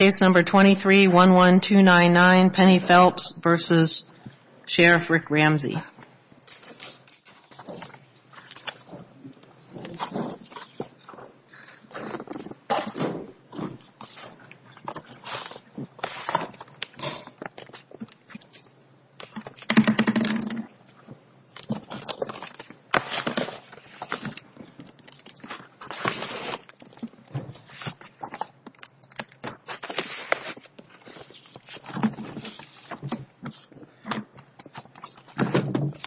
Case number 23-11299, Penny Phelps v. Sheriff Rick Ramsay.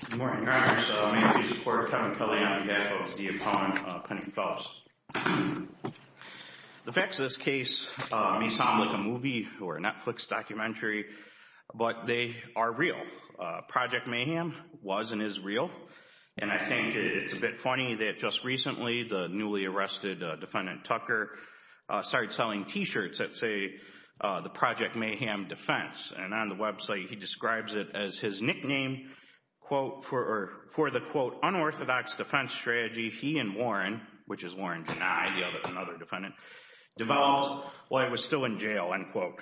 Good morning, Your Honors. I'm A.P. Secretary Kevin Kelley and I'm here to talk to you about the Deupon-Penny Phelps. The facts of this case may sound like a movie or a Netflix documentary, but they are real. Project Mayhem was and is real, and I think it's a bit funny that just recently the newly arrested Defendant Tucker started selling t-shirts that say the Project Mayhem defense, and on the website he describes it as his nickname, quote, for the, quote, unorthodox defense strategy he and Warren, which is Warren Jani, another defendant, developed while he was still in jail, end quote.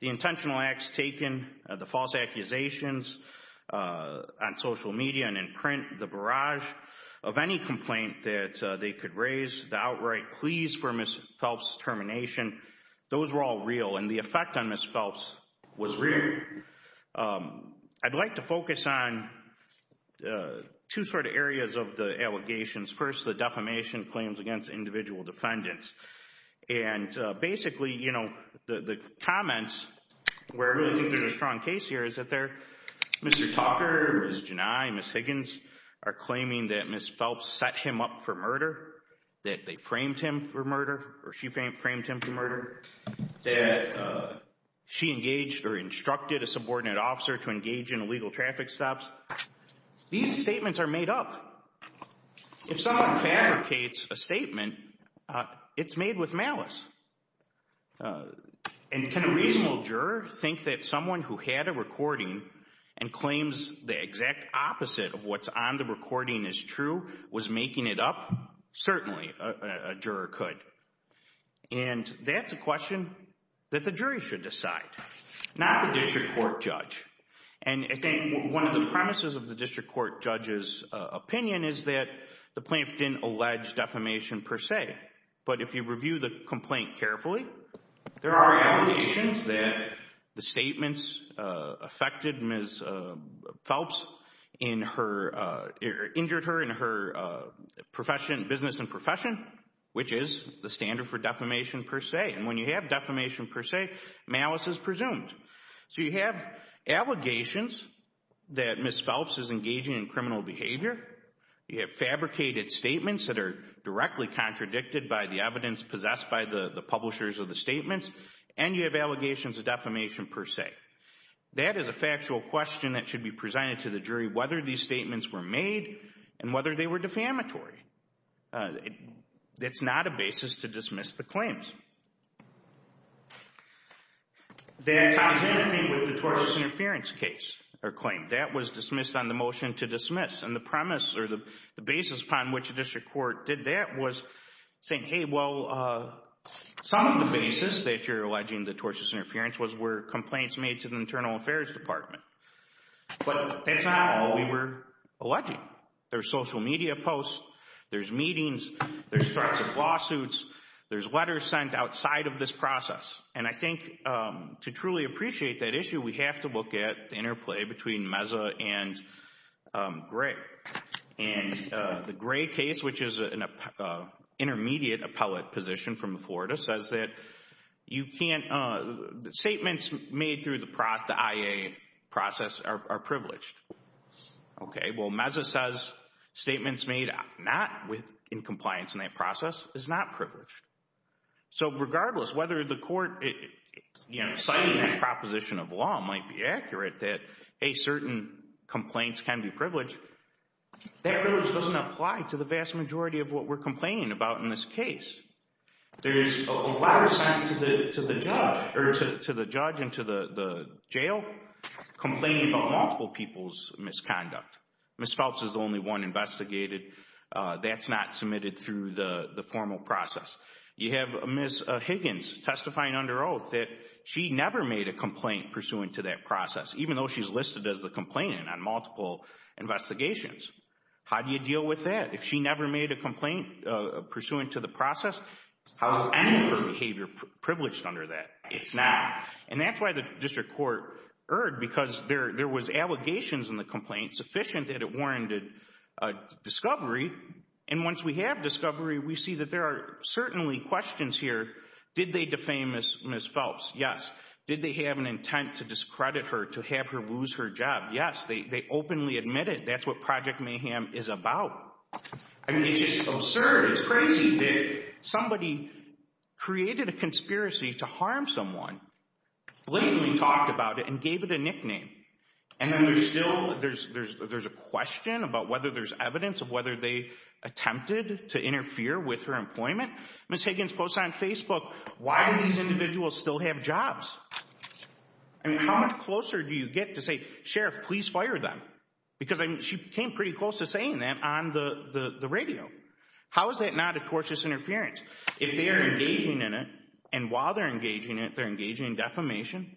The intentional acts taken, the false accusations on social media and in print, the barrage of any complaint that they could raise, the outright pleas for Ms. Phelps' termination, those were all real, and the effect on Ms. Phelps was real. I'd like to focus on two sort of areas of the allegations. First, the defamation claims against individual defendants, and basically, you know, the comments where I think there's a strong case here is that they're, Mr. Tucker, Ms. Jani, Ms. Higgins are claiming that Ms. Phelps set him up for murder, that they framed him for murder, or she framed him for murder, that she engaged or instructed a subordinate officer to engage in illegal traffic stops. These statements are made up. If someone fabricates a statement, it's made with malice, and can a reasonable juror think that someone who had a recording and claims the exact opposite of what's on the recording is true, was making it up? Certainly, a juror could, and that's a question that the jury should decide, not the district court judge, and I think one of the premises of the district court judge's opinion is that the plaintiff didn't allege defamation per se, but if you review the complaint carefully, there are allegations that the statements affected Ms. Phelps in her, injured her in her profession, business and profession, which is the standard for defamation per se, and when you have defamation per se, malice is presumed. So you have allegations that Ms. Phelps is engaging in criminal behavior, you have fabricated statements that are directly contradicted by the evidence possessed by the publishers of the statements, and you have allegations of defamation per se. That is a factual question that should be presented to the jury, whether these statements were made and whether they were defamatory. It's not a basis to dismiss the claims. That's the same thing with the tortious interference case, or claim. That was dismissed on the motion to dismiss, and the premise, or the basis upon which the district court did that was saying, hey, well, some of the basis that you're alleging the tortious interference was where complaints made to the Internal Affairs Department, but that's not all we were alleging. There's social media posts, there's meetings, there's threats of lawsuits, there's letters sent outside of this process, and I think to truly appreciate that issue, we have to look at the interplay between Meza and Gray, and the Gray case, which is an intermediate appellate position from Florida, says that statements made through the IA process are privileged. Okay, well, Meza says statements made not in compliance in that process is not privileged. So regardless, whether the court, you know, citing that proposition of law might be accurate that, hey, certain complaints can be privileged, that privilege doesn't apply to the vast majority of what we're complaining about in this case. There is a letter sent to the judge, or to the judge and to the jail, complaining about multiple people's misconduct. Ms. Phelps is the only one investigated that's not submitted through the formal process. You have Ms. Higgins testifying under oath that she never made a complaint pursuant to that process, even though she's listed as the complainant on multiple investigations. How do you deal with that? If she never made a complaint pursuant to the process, how is any of her behavior privileged under that? It's not. And that's why the district court erred, because there was allegations in the complaint sufficient that it warranted a discovery. And once we have discovery, we see that there are certainly questions here. Did they defame Ms. Phelps? Yes. Did they have an intent to discredit her, to have her lose her job? Yes. They openly admitted that's what Project Mayhem is about. I mean, it's just absurd. It's crazy that somebody created a conspiracy to harm someone, blatantly talked about it and gave it a nickname. And then there's still, there's a question about whether there's evidence of whether they attempted to interfere with her employment. Ms. Higgins posted on Facebook, why do these individuals still have jobs? And how much closer do you get to say, Sheriff, please fire them? Because she came pretty close to saying that on the radio. How is that not a tortious interference? If they are engaging in it, and while they're engaging it, they're engaging in defamation,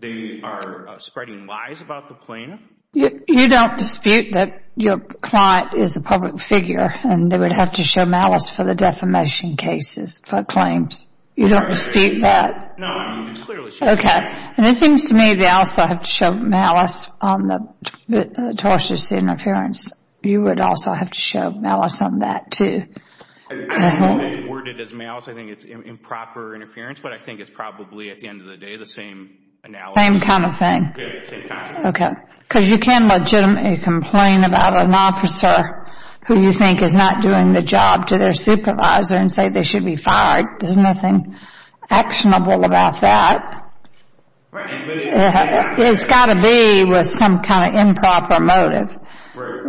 they are spreading lies about the plaintiff? You don't dispute that your client is a public figure and they would have to show malice for the defamation cases, for claims. You don't dispute that? No, I mean, clearly she's a public figure. Okay. And it seems to me they also have to show malice on the tortious interference. You would also have to show malice on that too. I don't think they word it as malice, I think it's improper interference, but I think it's probably at the end of the day the same analogy. Same kind of thing? Yeah, same kind of thing. Okay. Because you can legitimately complain about an officer who you think is not doing the job to their supervisor and say they should be fired. There's nothing actionable about that. It's got to be with some kind of improper motive,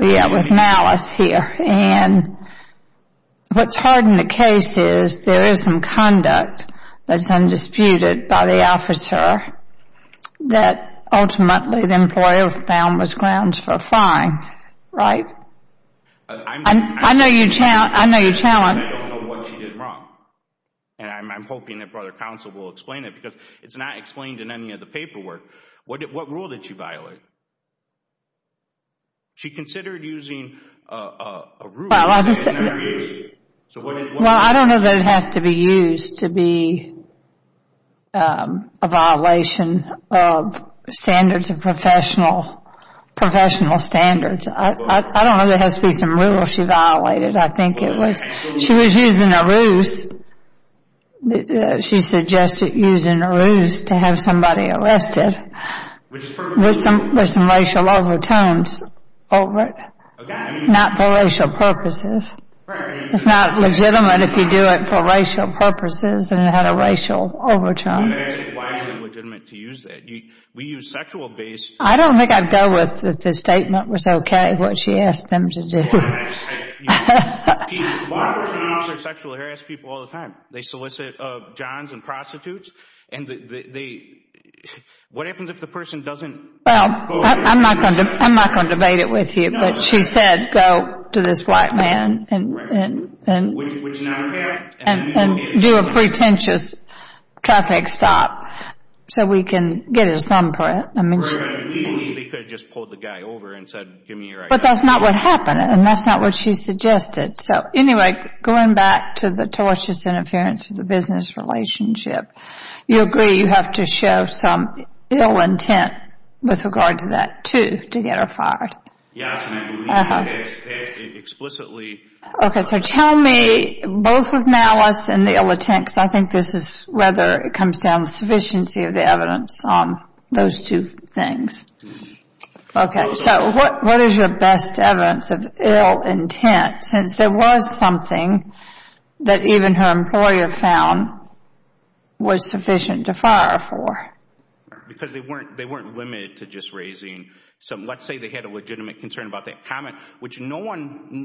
yeah, with malice here. And what's hard in the case is there is some conduct that's undisputed by the officer that ultimately the employer found was grounds for a fine, right? I know you're challenged. I don't know what she did wrong, and I'm hoping that brother counsel will explain it because it's not explained in any of the paperwork. What rule did she violate? She considered using a rule in her interview. Well, I don't know that it has to be used to be a violation of standards of professional standards. I don't know if there has to be some rule she violated. I think it was she was using a ruse. She suggested using a ruse to have somebody arrested with some racial overtones over it, not for racial purposes. It's not legitimate if you do it for racial purposes and it had a racial overtone. Why is it legitimate to use that? We use sexual-based... I don't think I'd go with if the statement was okay, what she asked them to do. Lawyers don't honor sexually harassed people all the time. They solicit johns and prostitutes. What happens if the person doesn't... I'm not going to debate it with you, but she said go to this white man and do a pretentious traffic stop so we can get his thumbprint. They could have just pulled the guy over and said, give me your ID. But that's not what happened, and that's not what she suggested. So anyway, going back to the tortious interference of the business relationship, you agree you have to show some ill intent with regard to that, too, to get her fired. Yes, ma'am. They explicitly... Okay, so tell me both the malice and the ill intent, because I think this is whether it Okay, so what is your best evidence of ill intent, since there was something that even her employer found was sufficient to fire her for? Because they weren't limited to just raising... Let's say they had a legitimate concern about that comment, which none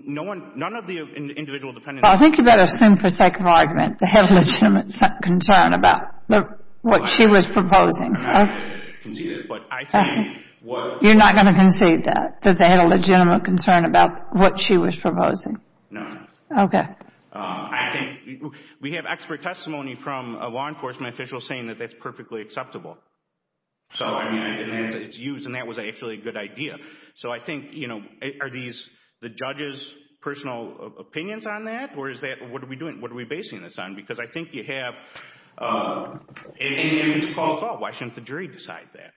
of the individual defendants... I think you better assume for sake of argument they had a legitimate concern about what she was proposing. Okay. You're not going to concede that, that they had a legitimate concern about what she was No, ma'am. Okay. I think we have expert testimony from a law enforcement official saying that that's perfectly acceptable. So, I mean, it's used, and that was actually a good idea. So I think, you know, are these the judge's personal opinions on that, or is that... What are we doing? What are we basing this on? Because I think you have... And if it's caused law, why shouldn't the jury decide that?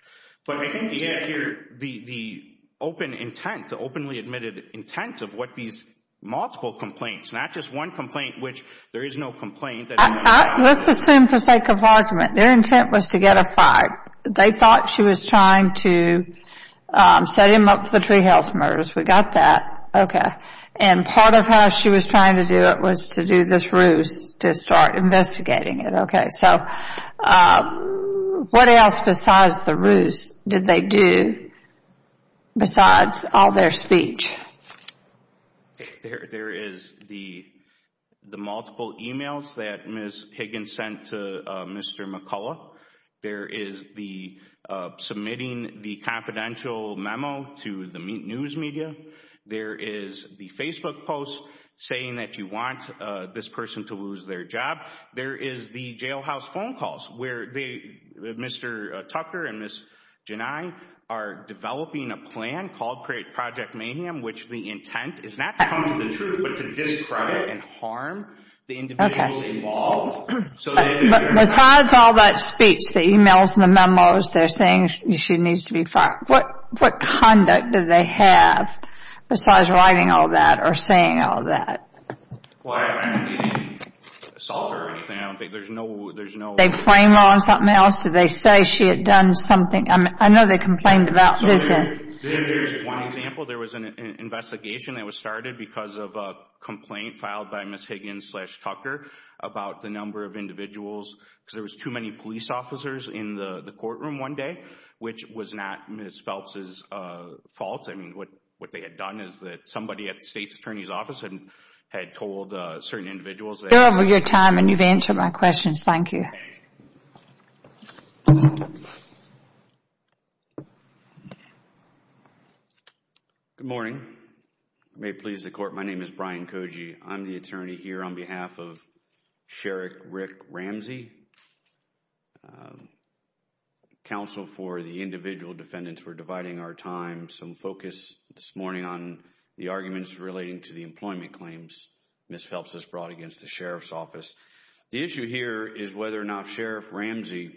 But I think you have here the open intent, the openly admitted intent of what these multiple complaints... Not just one complaint, which there is no complaint... Let's assume for sake of argument, their intent was to get a five. They thought she was trying to set him up for the treehouse murders. We got that. Okay. And part of how she was trying to do it was to do this ruse to start investigating it. Okay. So, what else besides the ruse did they do besides all their speech? There is the multiple emails that Ms. Higgins sent to Mr. McCullough. There is the submitting the confidential memo to the news media. There is the Facebook post saying that you want this person to lose their job. There is the jailhouse phone calls where Mr. Tucker and Ms. Jani are developing a plan called Create Project Mayhem, which the intent is not to come to the truth, but to discredit and harm the individuals involved. So they... Besides all that speech, the emails and the memos, they're saying she needs to be fired. What conduct did they have besides writing all that or saying all that? Well, I haven't seen any assault or anything. I don't think... There's no... Did they frame her on something else? Did they say she had done something? I know they complained about this. There's one example. There was an investigation that was started because of a complaint filed by Ms. Higgins slash Tucker about the number of individuals because there was too many police officers in the courtroom one day, which was not Ms. Phelps's fault. I mean, what they had done is that somebody at the state's attorney's office had told certain individuals that... You're over your time and you've answered my questions. Thank you. Okay. Good morning. May it please the court, my name is Brian Koji. I'm the attorney here on behalf of Sheriff Rick Ramsey, counsel for the individual defendants. We're dividing our time. Some focus this morning on the arguments relating to the employment claims Ms. Phelps has brought against the sheriff's office. The issue here is whether or not Sheriff Ramsey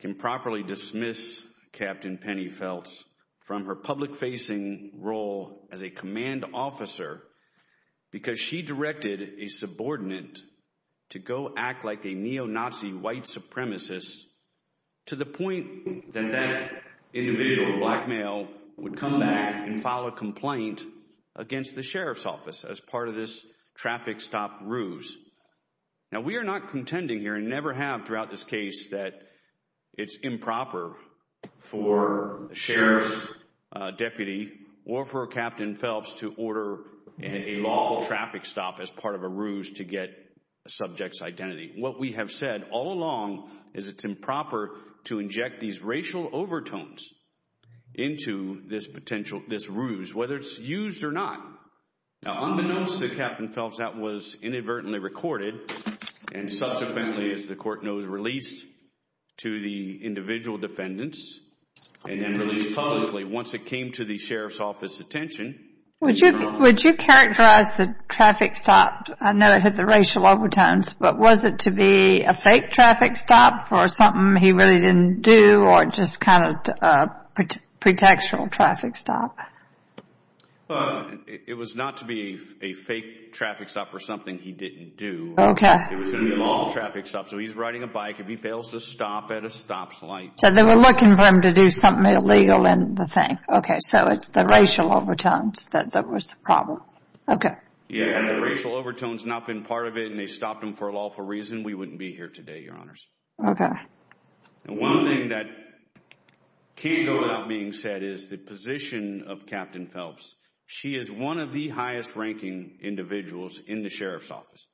can properly dismiss Captain Penny Phelps from her public facing role as a command officer because she directed a subordinate to go act like a neo-Nazi white supremacist to the point that that individual, a black male, would come back and file a complaint against the sheriff's office as part of this traffic stop ruse. Now, we are not contending here and never have throughout this case that it's improper for the sheriff's deputy or for Captain Phelps to order a lawful traffic stop as part of a ruse to get a subject's identity. What we have said all along is it's improper to inject these racial overtones into this potential, this ruse, whether it's used or not. Now, unbeknownst to Captain Phelps, that was inadvertently recorded and subsequently, as to the individual defendants, and then released publicly once it came to the sheriff's office attention. Would you characterize the traffic stop, I know it had the racial overtones, but was it to be a fake traffic stop for something he really didn't do or just kind of a pretextual traffic stop? It was not to be a fake traffic stop for something he didn't do. Okay. It was to be a lawful traffic stop. So, he's riding a bike. If he fails to stop at a stop light. So, they were looking for him to do something illegal in the thing. Okay. So, it's the racial overtones that was the problem. Okay. Yeah, and the racial overtones not been part of it and they stopped him for a lawful reason, we wouldn't be here today, Your Honors. Okay. One thing that can't go without being said is the position of Captain Phelps. She is one of the highest ranking individuals in the sheriff's office.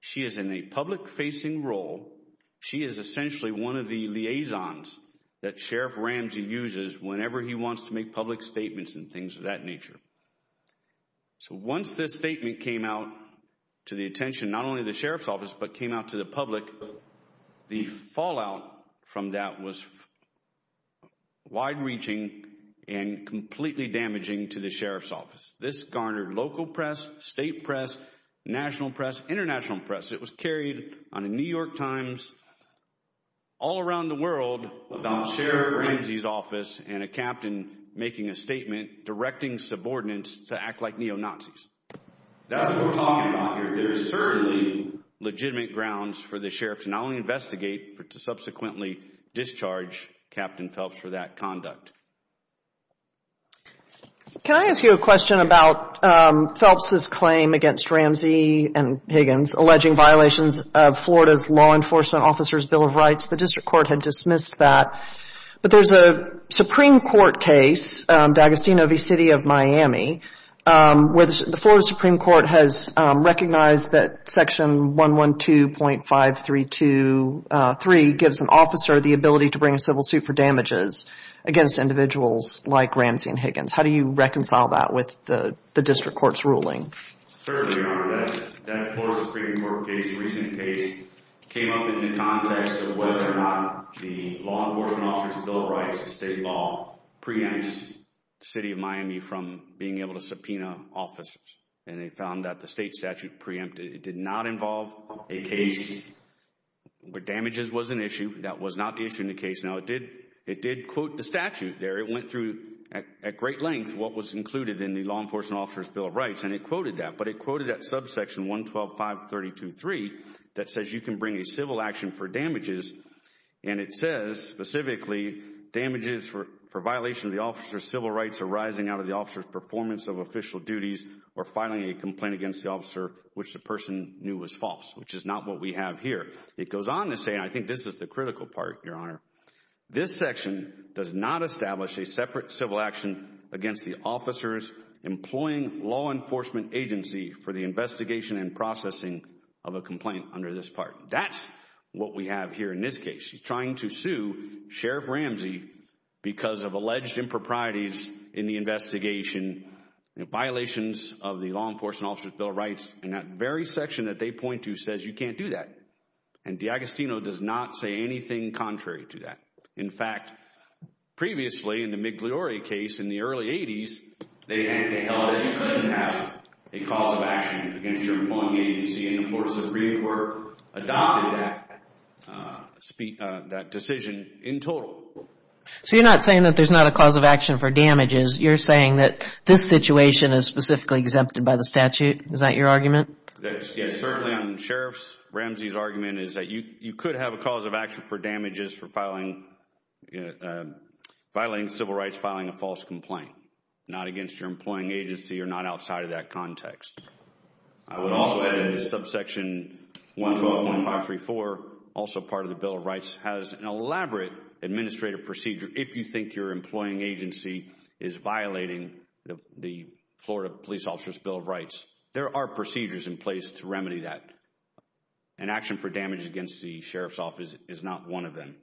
She is in a public facing role. She is essentially one of the liaisons that Sheriff Ramsey uses whenever he wants to make public statements and things of that nature. So, once this statement came out to the attention, not only the sheriff's office, but came out to the public, the fallout from that was wide reaching and completely damaging to the sheriff's office. This garnered local press, state press, national press, international press. It was carried on a New York Times, all around the world about Sheriff Ramsey's office and a captain making a statement directing subordinates to act like neo-Nazis. That's what we're talking about here. There is certainly legitimate grounds for the sheriff to not only investigate, but to subsequently discharge Captain Phelps for that conduct. Can I ask you a question about Phelps' claim against Ramsey and Higgins alleging violations of Florida's Law Enforcement Officers' Bill of Rights? The district court had dismissed that, but there's a Supreme Court case, D'Agostino v. City of Miami, where the Florida Supreme Court has recognized that section 112.532.3 gives an officer the ability to bring a civil suit for damages against individuals like Ramsey and Higgins. How do you reconcile that with the district court's ruling? Certainly, Your Honor. That Florida Supreme Court case, a recent case, came up in the context of whether or not the Law Enforcement Officers' Bill of Rights, the state law, preempts the City of Miami from being able to subpoena officers. They found that the state statute preempted, it did not involve a case where damages was an issue. That was not the issue in the case. Now, it did quote the statute there. It went through at great length what was included in the Law Enforcement Officers' Bill of Rights, and it quoted that. But it quoted that subsection 112.532.3 that says you can bring a civil action for damages, and it says specifically, damages for violation of the officer's civil rights arising out of the officer's performance of official duties or filing a complaint against the officer which the person knew was false, which is not what we have here. It goes on to say, and I think this is the critical part, Your Honor, this section does not establish a separate civil action against the officers employing law enforcement agency for the investigation and processing of a complaint under this part. That's what we have here in this case. He's trying to sue Sheriff Ramsey because of alleged improprieties in the investigation, violations of the Law Enforcement Officers' Bill of Rights, and that very section that they point to says you can't do that, and D'Agostino does not say anything contrary to that. In fact, previously in the Migliori case in the early 80s, they held that you couldn't have a cause of action against your employing agency, and of course, the Supreme Court adopted that decision in total. So, you're not saying that there's not a cause of action for damages. You're saying that this situation is specifically exempted by the statute. Is that your argument? Yes, certainly on Sheriff Ramsey's argument is that you could have a cause of action for damages for violating civil rights, filing a false complaint, not against your employing agency or not outside of that context. I would also add that subsection 112.534, also part of the Bill of Rights, has an elaborate administrative procedure if you think your employing agency is violating the Florida Police Officers' Bill of Rights. There are procedures in place to remedy that, and action for damage against the Sheriff's Office is not one of them.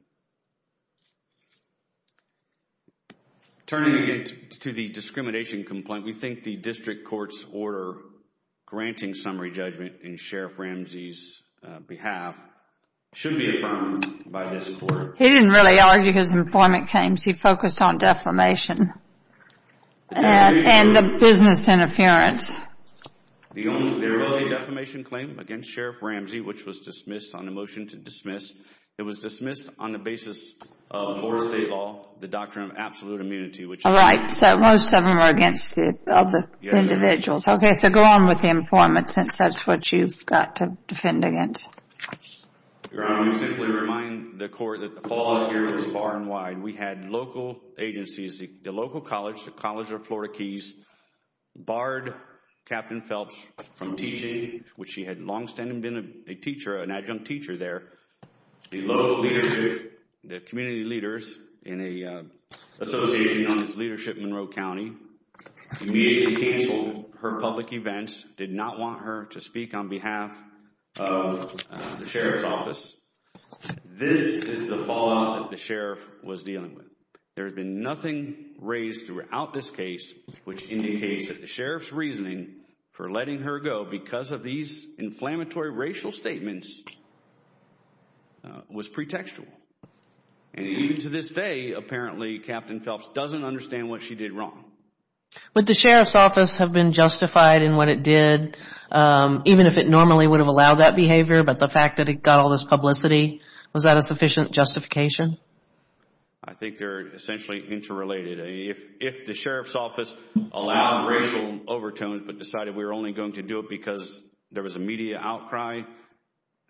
Turning again to the discrimination complaint, we think the district court's order granting summary judgment in Sheriff Ramsey's behalf should be affirmed by this court. He didn't really argue his employment claims. He focused on defamation and the business interference. The only verbal defamation claim against Sheriff Ramsey, which was dismissed on the motion to dismiss, it was dismissed on the basis of Florida state law, the doctrine of absolute immunity. Right, so most of them are against the other individuals. Okay, so go on with the employment since that's what you've got to defend against. Your Honor, let me simply remind the court that the fallout here is far and wide. We had local agencies, the local college, the College of Florida Keys, barred Captain Phelps from teaching, which he had long-standing been a teacher, an adjunct teacher there. The local leadership, the community leaders in an association known as Leadership Monroe County, immediately canceled her public events, did not want her to speak on behalf of the Sheriff's Office. This is the fallout that the Sheriff was dealing with. There had been nothing raised throughout this case which indicates that the Sheriff's reasoning for letting her go because of these inflammatory racial statements was pretextual. And even to this day, apparently, Captain Phelps doesn't understand what she did wrong. Would the Sheriff's Office have been justified in what it did, even if it normally would have allowed that behavior? But the fact that it got all this publicity, was that a sufficient justification? I think they're essentially interrelated. If the Sheriff's Office allowed racial overtones but decided we were only going to do it because there was a media outcry,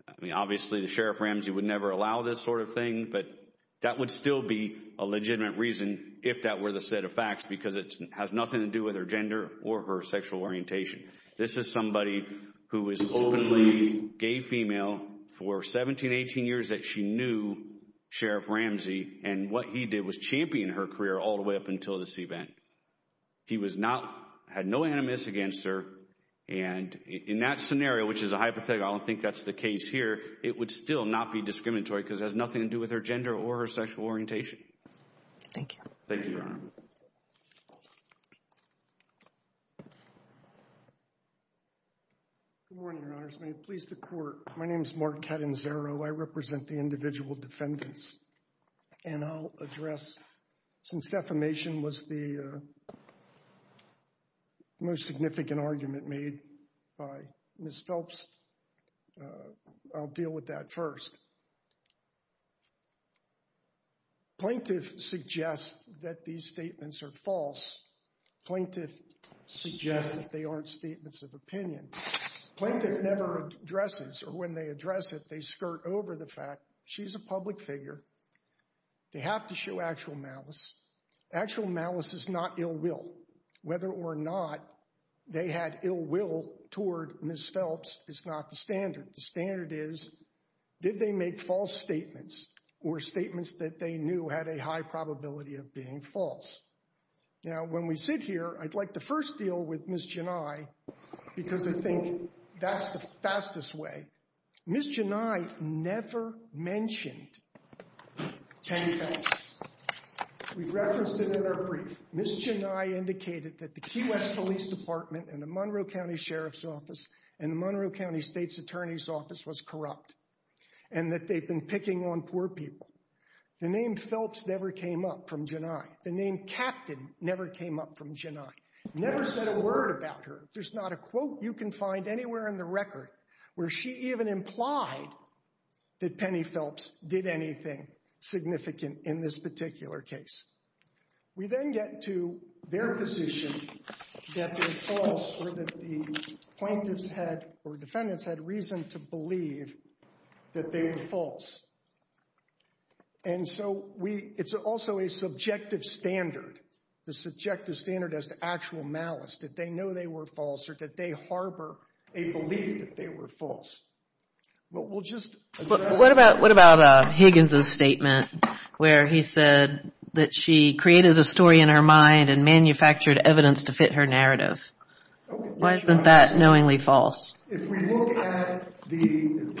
I mean, obviously, the Sheriff Ramsey would never allow this sort of thing. But that would still be a legitimate reason if that were the set of facts because it has nothing to do with her gender or her sexual orientation. This is somebody who is openly gay female for 17, 18 years that she knew Sheriff Ramsey and what he did was champion her career all the way up until this event. He had no animus against her and in that scenario, which is a hypothetical, I don't think that's the case here, it would still not be discriminatory because it has nothing to do with her gender or her sexual orientation. Thank you. Thank you, Your Honor. Good morning, Your Honor. May it please the Court. My name is Mark Cadanzaro. I represent the individual defendants. And I'll address, since defamation was the most significant argument made by Ms. Phelps, I'll deal with that first. Plaintiff suggests that these statements are false. Plaintiff suggests that they aren't statements of opinion. Plaintiff never addresses, or when they address it, they skirt over the fact she's a public figure. They have to show actual malice. Actual malice is not ill will. Whether or not they had ill will toward Ms. Phelps is not the standard. The standard is did they make false statements or statements that they knew had a high probability of being false. Now, when we sit here, I'd like to first deal with Ms. Gennai because I think that's the fastest way. Ms. Gennai never mentioned Tammy Phelps. We've referenced it in our brief. Ms. Gennai indicated that the Key West Police Department and the Monroe County Sheriff's Office and the Monroe County State's Attorney's Office was corrupt and that they'd been picking on poor people. The name Phelps never came up from Gennai. The name Captain never came up from Gennai. Never said a word about her. There's not a quote you can find anywhere in the record where she even implied that Penny Phelps did anything significant in this particular case. We then get to their position that they're false or that the plaintiffs had, or defendants had reason to believe that they were false. And so we, it's also a subjective standard. The subjective standard as to actual malice, that they know they were false or that they harbor a belief that they were false. But we'll just- But what about Higgins' statement where he said that she created a story in her mind and manufactured evidence to fit her narrative? Why isn't that knowingly false? If we look at the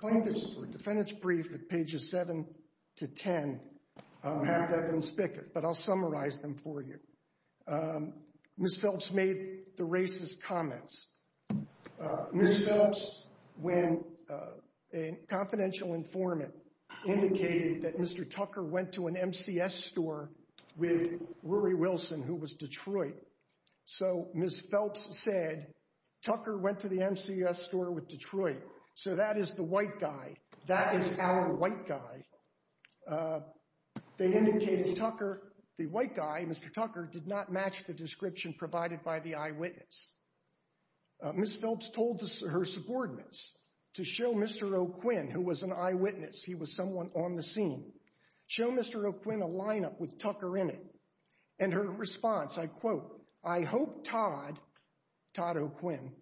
plaintiffs' or defendants' brief at pages 7 to 10, have that been spigot, but I'll summarize them for you. Ms. Phelps made the racist comments. Ms. Phelps, when a confidential informant indicated that Mr. Tucker went to an MCS store with Rory Wilson, who was Detroit. So Ms. Phelps said, Tucker went to the MCS store with Detroit. So that is the white guy, that is our white guy. They indicated Tucker, the white guy, Mr. Tucker, did not match the description provided by the eyewitness. Ms. Phelps told her subordinates to show Mr. O'Quinn, who was an eyewitness, he was someone on the scene, show Mr. O'Quinn a lineup with Tucker in it. And her response, I quote, I hope Todd, Todd O'Quinn,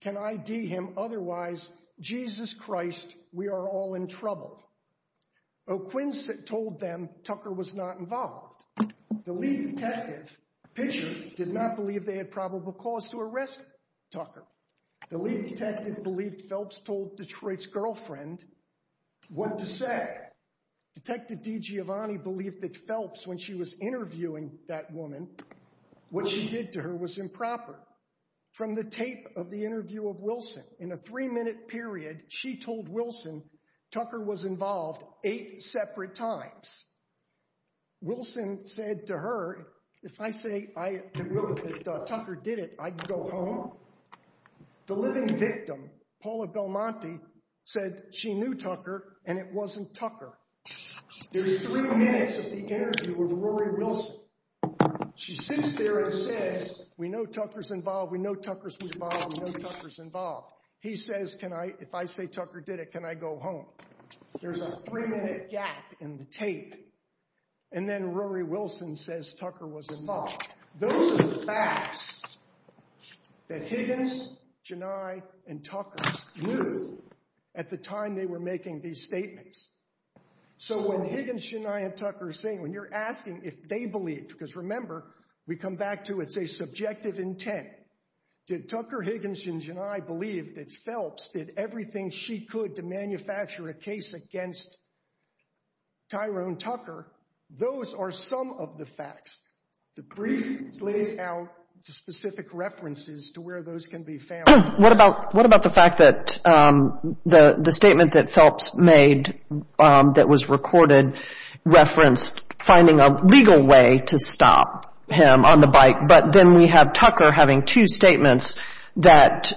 can ID him, otherwise, Jesus Christ, we are all in trouble. O'Quinn told them Tucker was not involved. The lead detective, Pitcher, did not believe they had probable cause to arrest Tucker. The lead detective believed Phelps told Detroit's girlfriend what to say. Detective DiGiovanni believed that Phelps, when she was interviewing that woman, what she did to her was improper. From the tape of the interview of Wilson, in a three-minute period, she told Wilson Tucker was involved eight separate times. Wilson said to her, if I say that Tucker did it, I'd go home. The living victim, Paula Belmonte, said she knew Tucker and it wasn't Tucker. There's three minutes of the interview with Rory Wilson. She sits there and says, we know Tucker's involved, we know Tucker's involved, we know Tucker's involved. He says, can I, if I say Tucker did it, can I go home? There's a three-minute gap in the tape. And then Rory Wilson says Tucker was involved. Those are the facts that Higgins, Gennai, and Tucker knew at the time they were making these statements. So when Higgins, Gennai, and Tucker are saying, when you're asking if they believed, because remember, we come back to it's a subjective intent. Did Tucker, Higgins, and Gennai believe that Phelps did everything she could to manufacture a case against Tyrone Tucker? Those are some of the facts. The brief lays out the specific references to where those can be found. What about the fact that the statement that Phelps made that was recorded referenced finding a legal way to stop him on the bike, but then we have Tucker having two statements that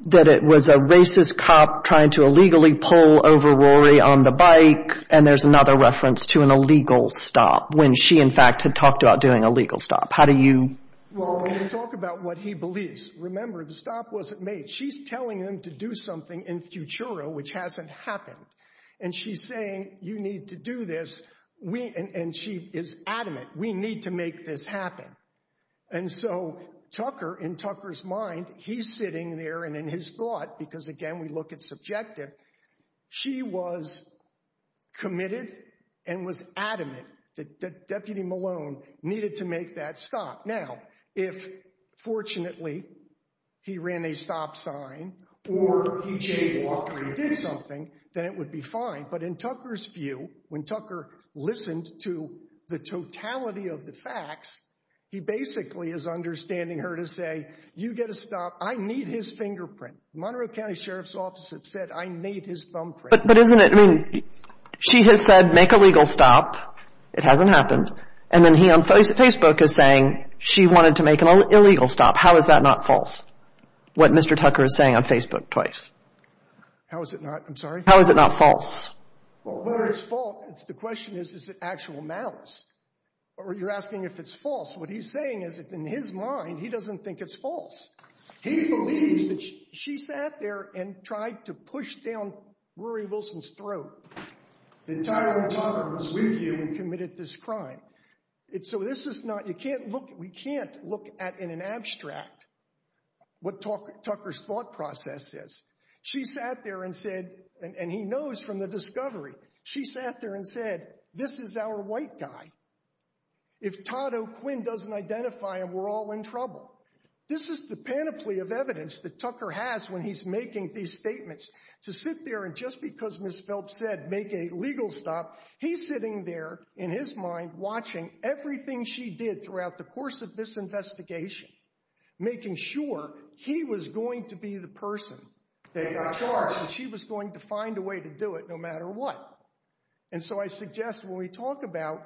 it was a racist cop trying to illegally pull over Rory on the bike, and there's another reference to an illegal stop when she, in fact, had talked about doing a legal stop. How do you... Well, when you talk about what he believes, remember the stop wasn't made. She's telling him to do something in Futuro which hasn't happened. And she's saying you need to do this, and she is adamant, we need to make this happen. And so Tucker, in Tucker's mind, he's sitting there and in his thought, because again we look at subjective, she was committed and was adamant that Deputy Malone needed to make that stop. Now, if fortunately he ran a stop sign or he jaywalked or he did something, then it would be fine. But in Tucker's view, when Tucker listened to the totality of the facts, he basically is understanding her to say, you get a stop, I need his fingerprint. The Monroe County Sheriff's Office have said I need his thumbprint. But isn't it, I mean, she has said make a legal stop, it hasn't happened, and then he on Facebook is saying she wanted to make an illegal stop. How is that not false? What Mr. Tucker is saying on Facebook twice. How is it not, I'm sorry? How is it not false? Well, whether it's false, the question is, is it actual malice? Or you're asking if it's false. What he's saying is that in his mind, he doesn't think it's false. He believes that she sat there and tried to push down Rory Wilson's throat, that Tyrone Tucker was with you and committed this crime. So this is not, you can't look, we can't look at, in an abstract, what Tucker's thought process is. She sat there and said, and he knows from the discovery, she sat there and said, this is our white guy. If Todd O'Quinn doesn't identify him, we're all in trouble. This is the panoply of evidence that Tucker has when he's making these statements. To sit there and just because Ms. Phelps said make a legal stop, he's sitting there in his mind watching everything she did throughout the course of this investigation, making sure he was going to be the person that got charged and she was going to find a way to do it no matter what. And so I suggest when we talk about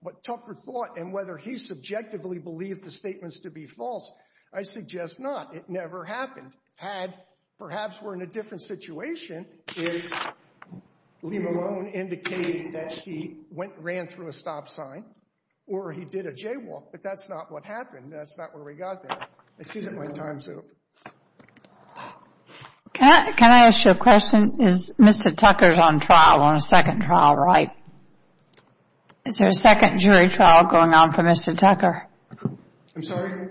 what Tucker thought and whether he subjectively believed the statements to be false, I suggest not. It never happened. Had, perhaps we're in a different situation, if Lee Malone indicated that he went, ran through a stop sign or he did a jaywalk, but that's not what happened, that's not where we got there. I see that my time's up. Can I ask you a question? Is Mr. Tucker's on trial, on a second trial, right? Is there a second jury trial going on for Mr. Tucker? I'm sorry?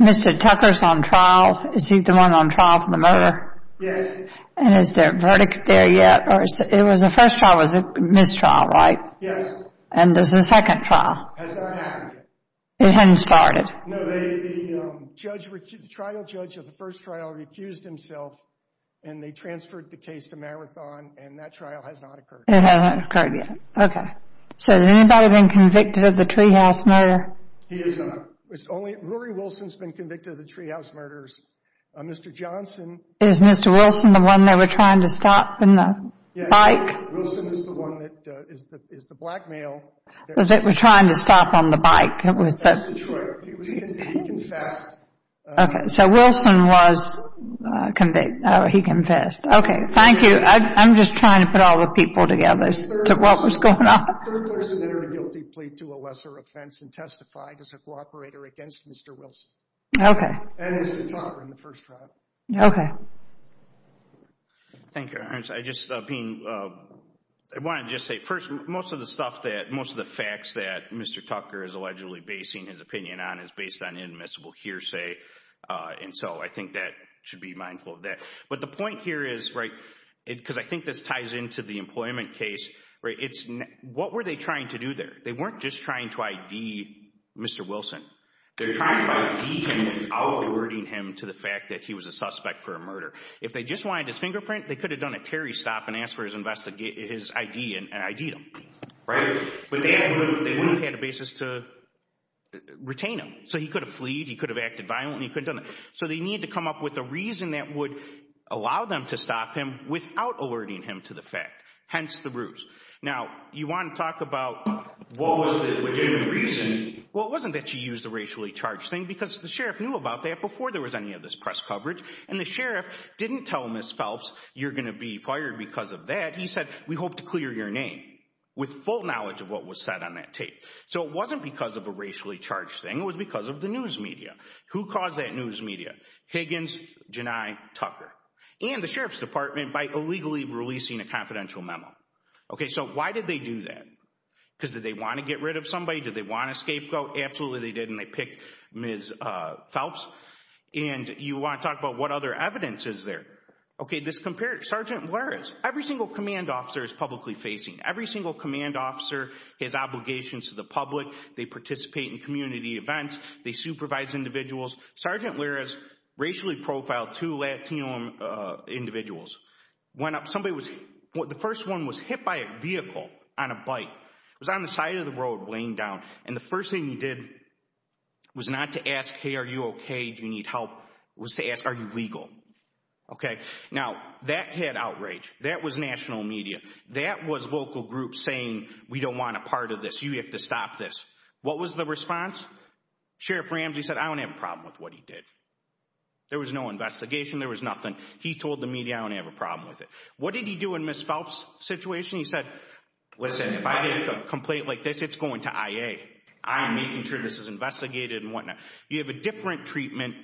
Mr. Tucker's on trial. Is he the one on trial for the murder? Yes. And is there a verdict there yet? It was the first trial was a missed trial, right? Yes. And there's a second trial. Has not happened yet. It hadn't started. No, the trial judge of the first trial refused himself and they transferred the case to Marathon and that trial has not occurred. It hasn't occurred yet. Okay. So has anybody been convicted of the Treehouse murder? He is not. It's only, Rory Wilson's been convicted of the Treehouse murders. Mr. Johnson. Is Mr. Wilson the one they were trying to stop in the bike? Yes. Wilson is the one that is the blackmail. That they were trying to stop on the bike. Mr. Troy. He confessed. Okay. So Wilson was, he confessed. Okay. Thank you. I'm just trying to put all the people together as to what was going on. The third person entered a guilty plea to a lesser offense and testified as a cooperator against Mr. Wilson. Okay. And Mr. Tucker in the first trial. Okay. Thank you. I just being, I wanted to just say first, most of the stuff that, most of the facts that Mr. Tucker is allegedly basing his opinion on is based on inadmissible hearsay. And so I think that should be mindful of that. But the point here is, right, because I think this ties into the employment case, right, it's, what were they trying to do there? They weren't just trying to ID Mr. Wilson. They're trying to ID him without alerting him to the fact that he was a suspect for a murder. If they just wanted his fingerprint, they could have done a Terry stop and asked for his ID and ID'd him. Right? But they wouldn't have had a basis to retain him. So he could have fleed. He could have acted violently. He couldn't have done that. Right? So they need to come up with a reason that would allow them to stop him without alerting him to the fact. Hence, the ruse. Now, you want to talk about what was the legitimate reason? Well, it wasn't that you used the racially charged thing because the sheriff knew about that before there was any of this press coverage. And the sheriff didn't tell Ms. Phelps, you're going to be fired because of that. He said, we hope to clear your name with full knowledge of what was said on that tape. So it wasn't because of a racially charged thing. It was because of the news media. Who caused that news media? Higgins, Janai, Tucker. And the sheriff's department by illegally releasing a confidential memo. Okay, so why did they do that? Because did they want to get rid of somebody? Did they want a scapegoat? Absolutely, they did. And they picked Ms. Phelps. And you want to talk about what other evidence is there? Okay, this comparative. Sergeant, where is? Every single command officer is publicly facing. Every single command officer has obligations to the public. They participate in community events. They supervise individuals. Sergeant, where is? Racially profiled two Latino individuals. The first one was hit by a vehicle on a bike. It was on the side of the road laying down. And the first thing he did was not to ask, hey, are you okay? Do you need help? It was to ask, are you legal? Okay, now that had outrage. That was national media. That was local groups saying, we don't want a part of this. You have to stop this. What was the response? Sheriff Ramsey said, I don't have a problem with what he did. There was no investigation. There was nothing. He told the media, I don't have a problem with it. What did he do in Ms. Phelps' situation? He said, listen, if I get a complaint like this, it's going to IA. I'm making sure this is investigated and whatnot. You have a different treatment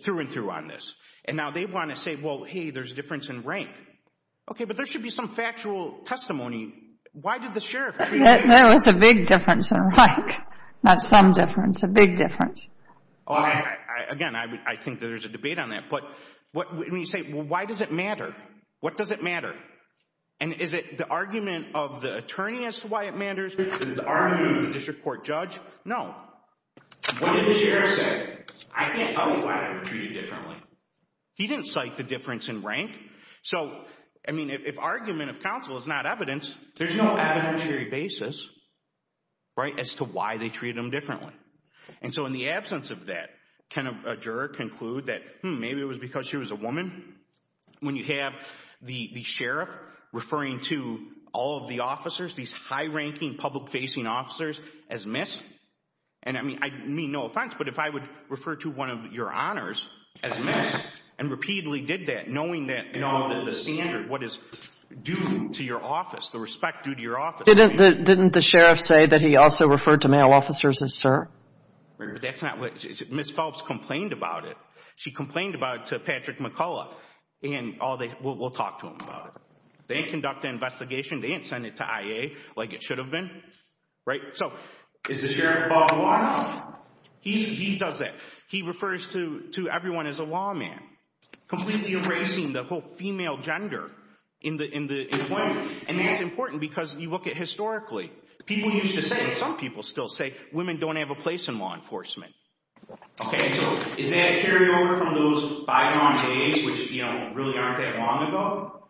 through and through on this. And now they want to say, well, hey, there's a difference in rank. Okay, but there should be some factual testimony. Why did the sheriff treat it like this? There was a big difference in rank. Not some difference, a big difference. Again, I think there's a debate on that. But when you say, well, why does it matter? What does it matter? And is it the argument of the attorney as to why it matters? Is it the argument of the district court judge? No. What did the sheriff say? I can't tell you why I was treated differently. He didn't cite the difference in rank. So, I mean, if argument of counsel is not evidence, there's no evidentiary basis as to why they treated him differently. And so, in the absence of that, can a juror conclude that, hmm, maybe it was because she was a woman? When you have the sheriff referring to all of the officers, these high-ranking public-facing officers, as missed? And, I mean, I mean no offense, but if I would refer to one of your honors as missed and repeatedly did that, knowing that the standard, what is due to your office, the respect due to your office. Didn't the sheriff say that he also referred to male officers as sir? That's not what he said. Ms. Phelps complained about it. She complained about it to Patrick McCullough. And we'll talk to him about it. They didn't conduct an investigation. They didn't send it to IA like it should have been. Right? So, is the sheriff above the law? He does that. He refers to everyone as a lawman. Completely erasing the whole female gender in the employment. And that's important because you look at historically, people used to say, and some people still say, women don't have a place in law enforcement. Okay, so is that a carryover from those bygone days, which, you know, really aren't that long ago?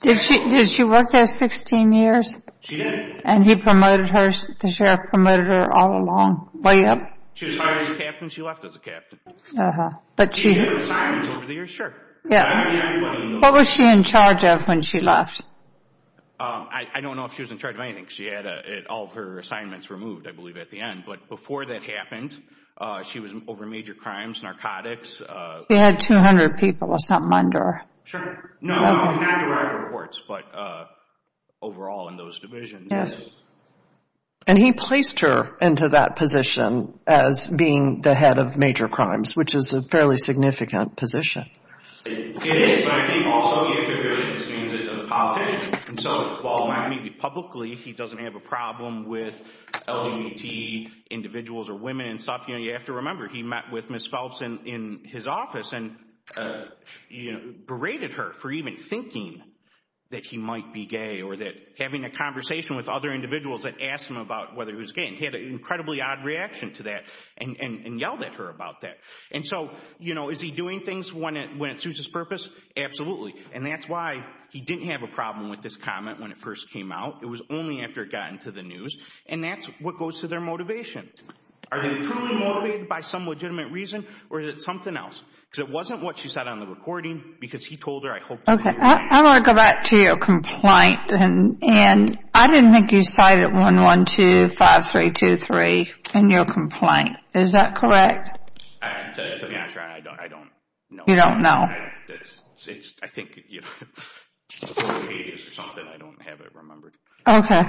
Did she work there 16 years? She did. And he promoted her, the sheriff promoted her all along, way up? She was hired as a captain. She left as a captain. Uh-huh. Did she do her assignments over the years? Sure. What was she in charge of when she left? I don't know if she was in charge of anything. She had all of her assignments removed, I believe, at the end. But before that happened, she was over major crimes, narcotics. She had 200 people or something under her. Sure. No, not derived reports, but overall in those divisions. Yes. And he placed her into that position as being the head of major crimes, which is a fairly significant position. It is, but I think also you have to agree with the streams of politicians. And so, while not meeting publicly, he doesn't have a problem with LGBT individuals or women and stuff. You have to remember, he met with Ms. Phelps in his office and berated her for even thinking that he might be gay or that having a conversation with other individuals that asked him about whether he was gay. And he had an incredibly odd reaction to that and yelled at her about that. And so, you know, is he doing things when it suits his purpose? Absolutely. And that's why he didn't have a problem with this comment when it first came out. It was only after it got into the news. And that's what goes to their motivation. Are they truly motivated by some legitimate reason, or is it something else? Because it wasn't what she said on the recording because he told her, I hope that you're right. Okay, I want to go back to your complaint. And I didn't think you cited 1-1-2-5-3-2-3 in your complaint. Is that correct? To be honest, I don't know. You don't know? I think it's a couple of pages or something. I don't have it remembered. Okay.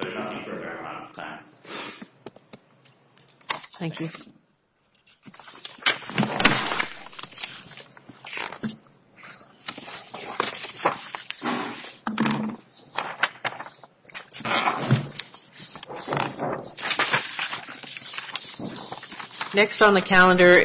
There's nothing for a very long time. Thank you. Thank you. Next on the calendar is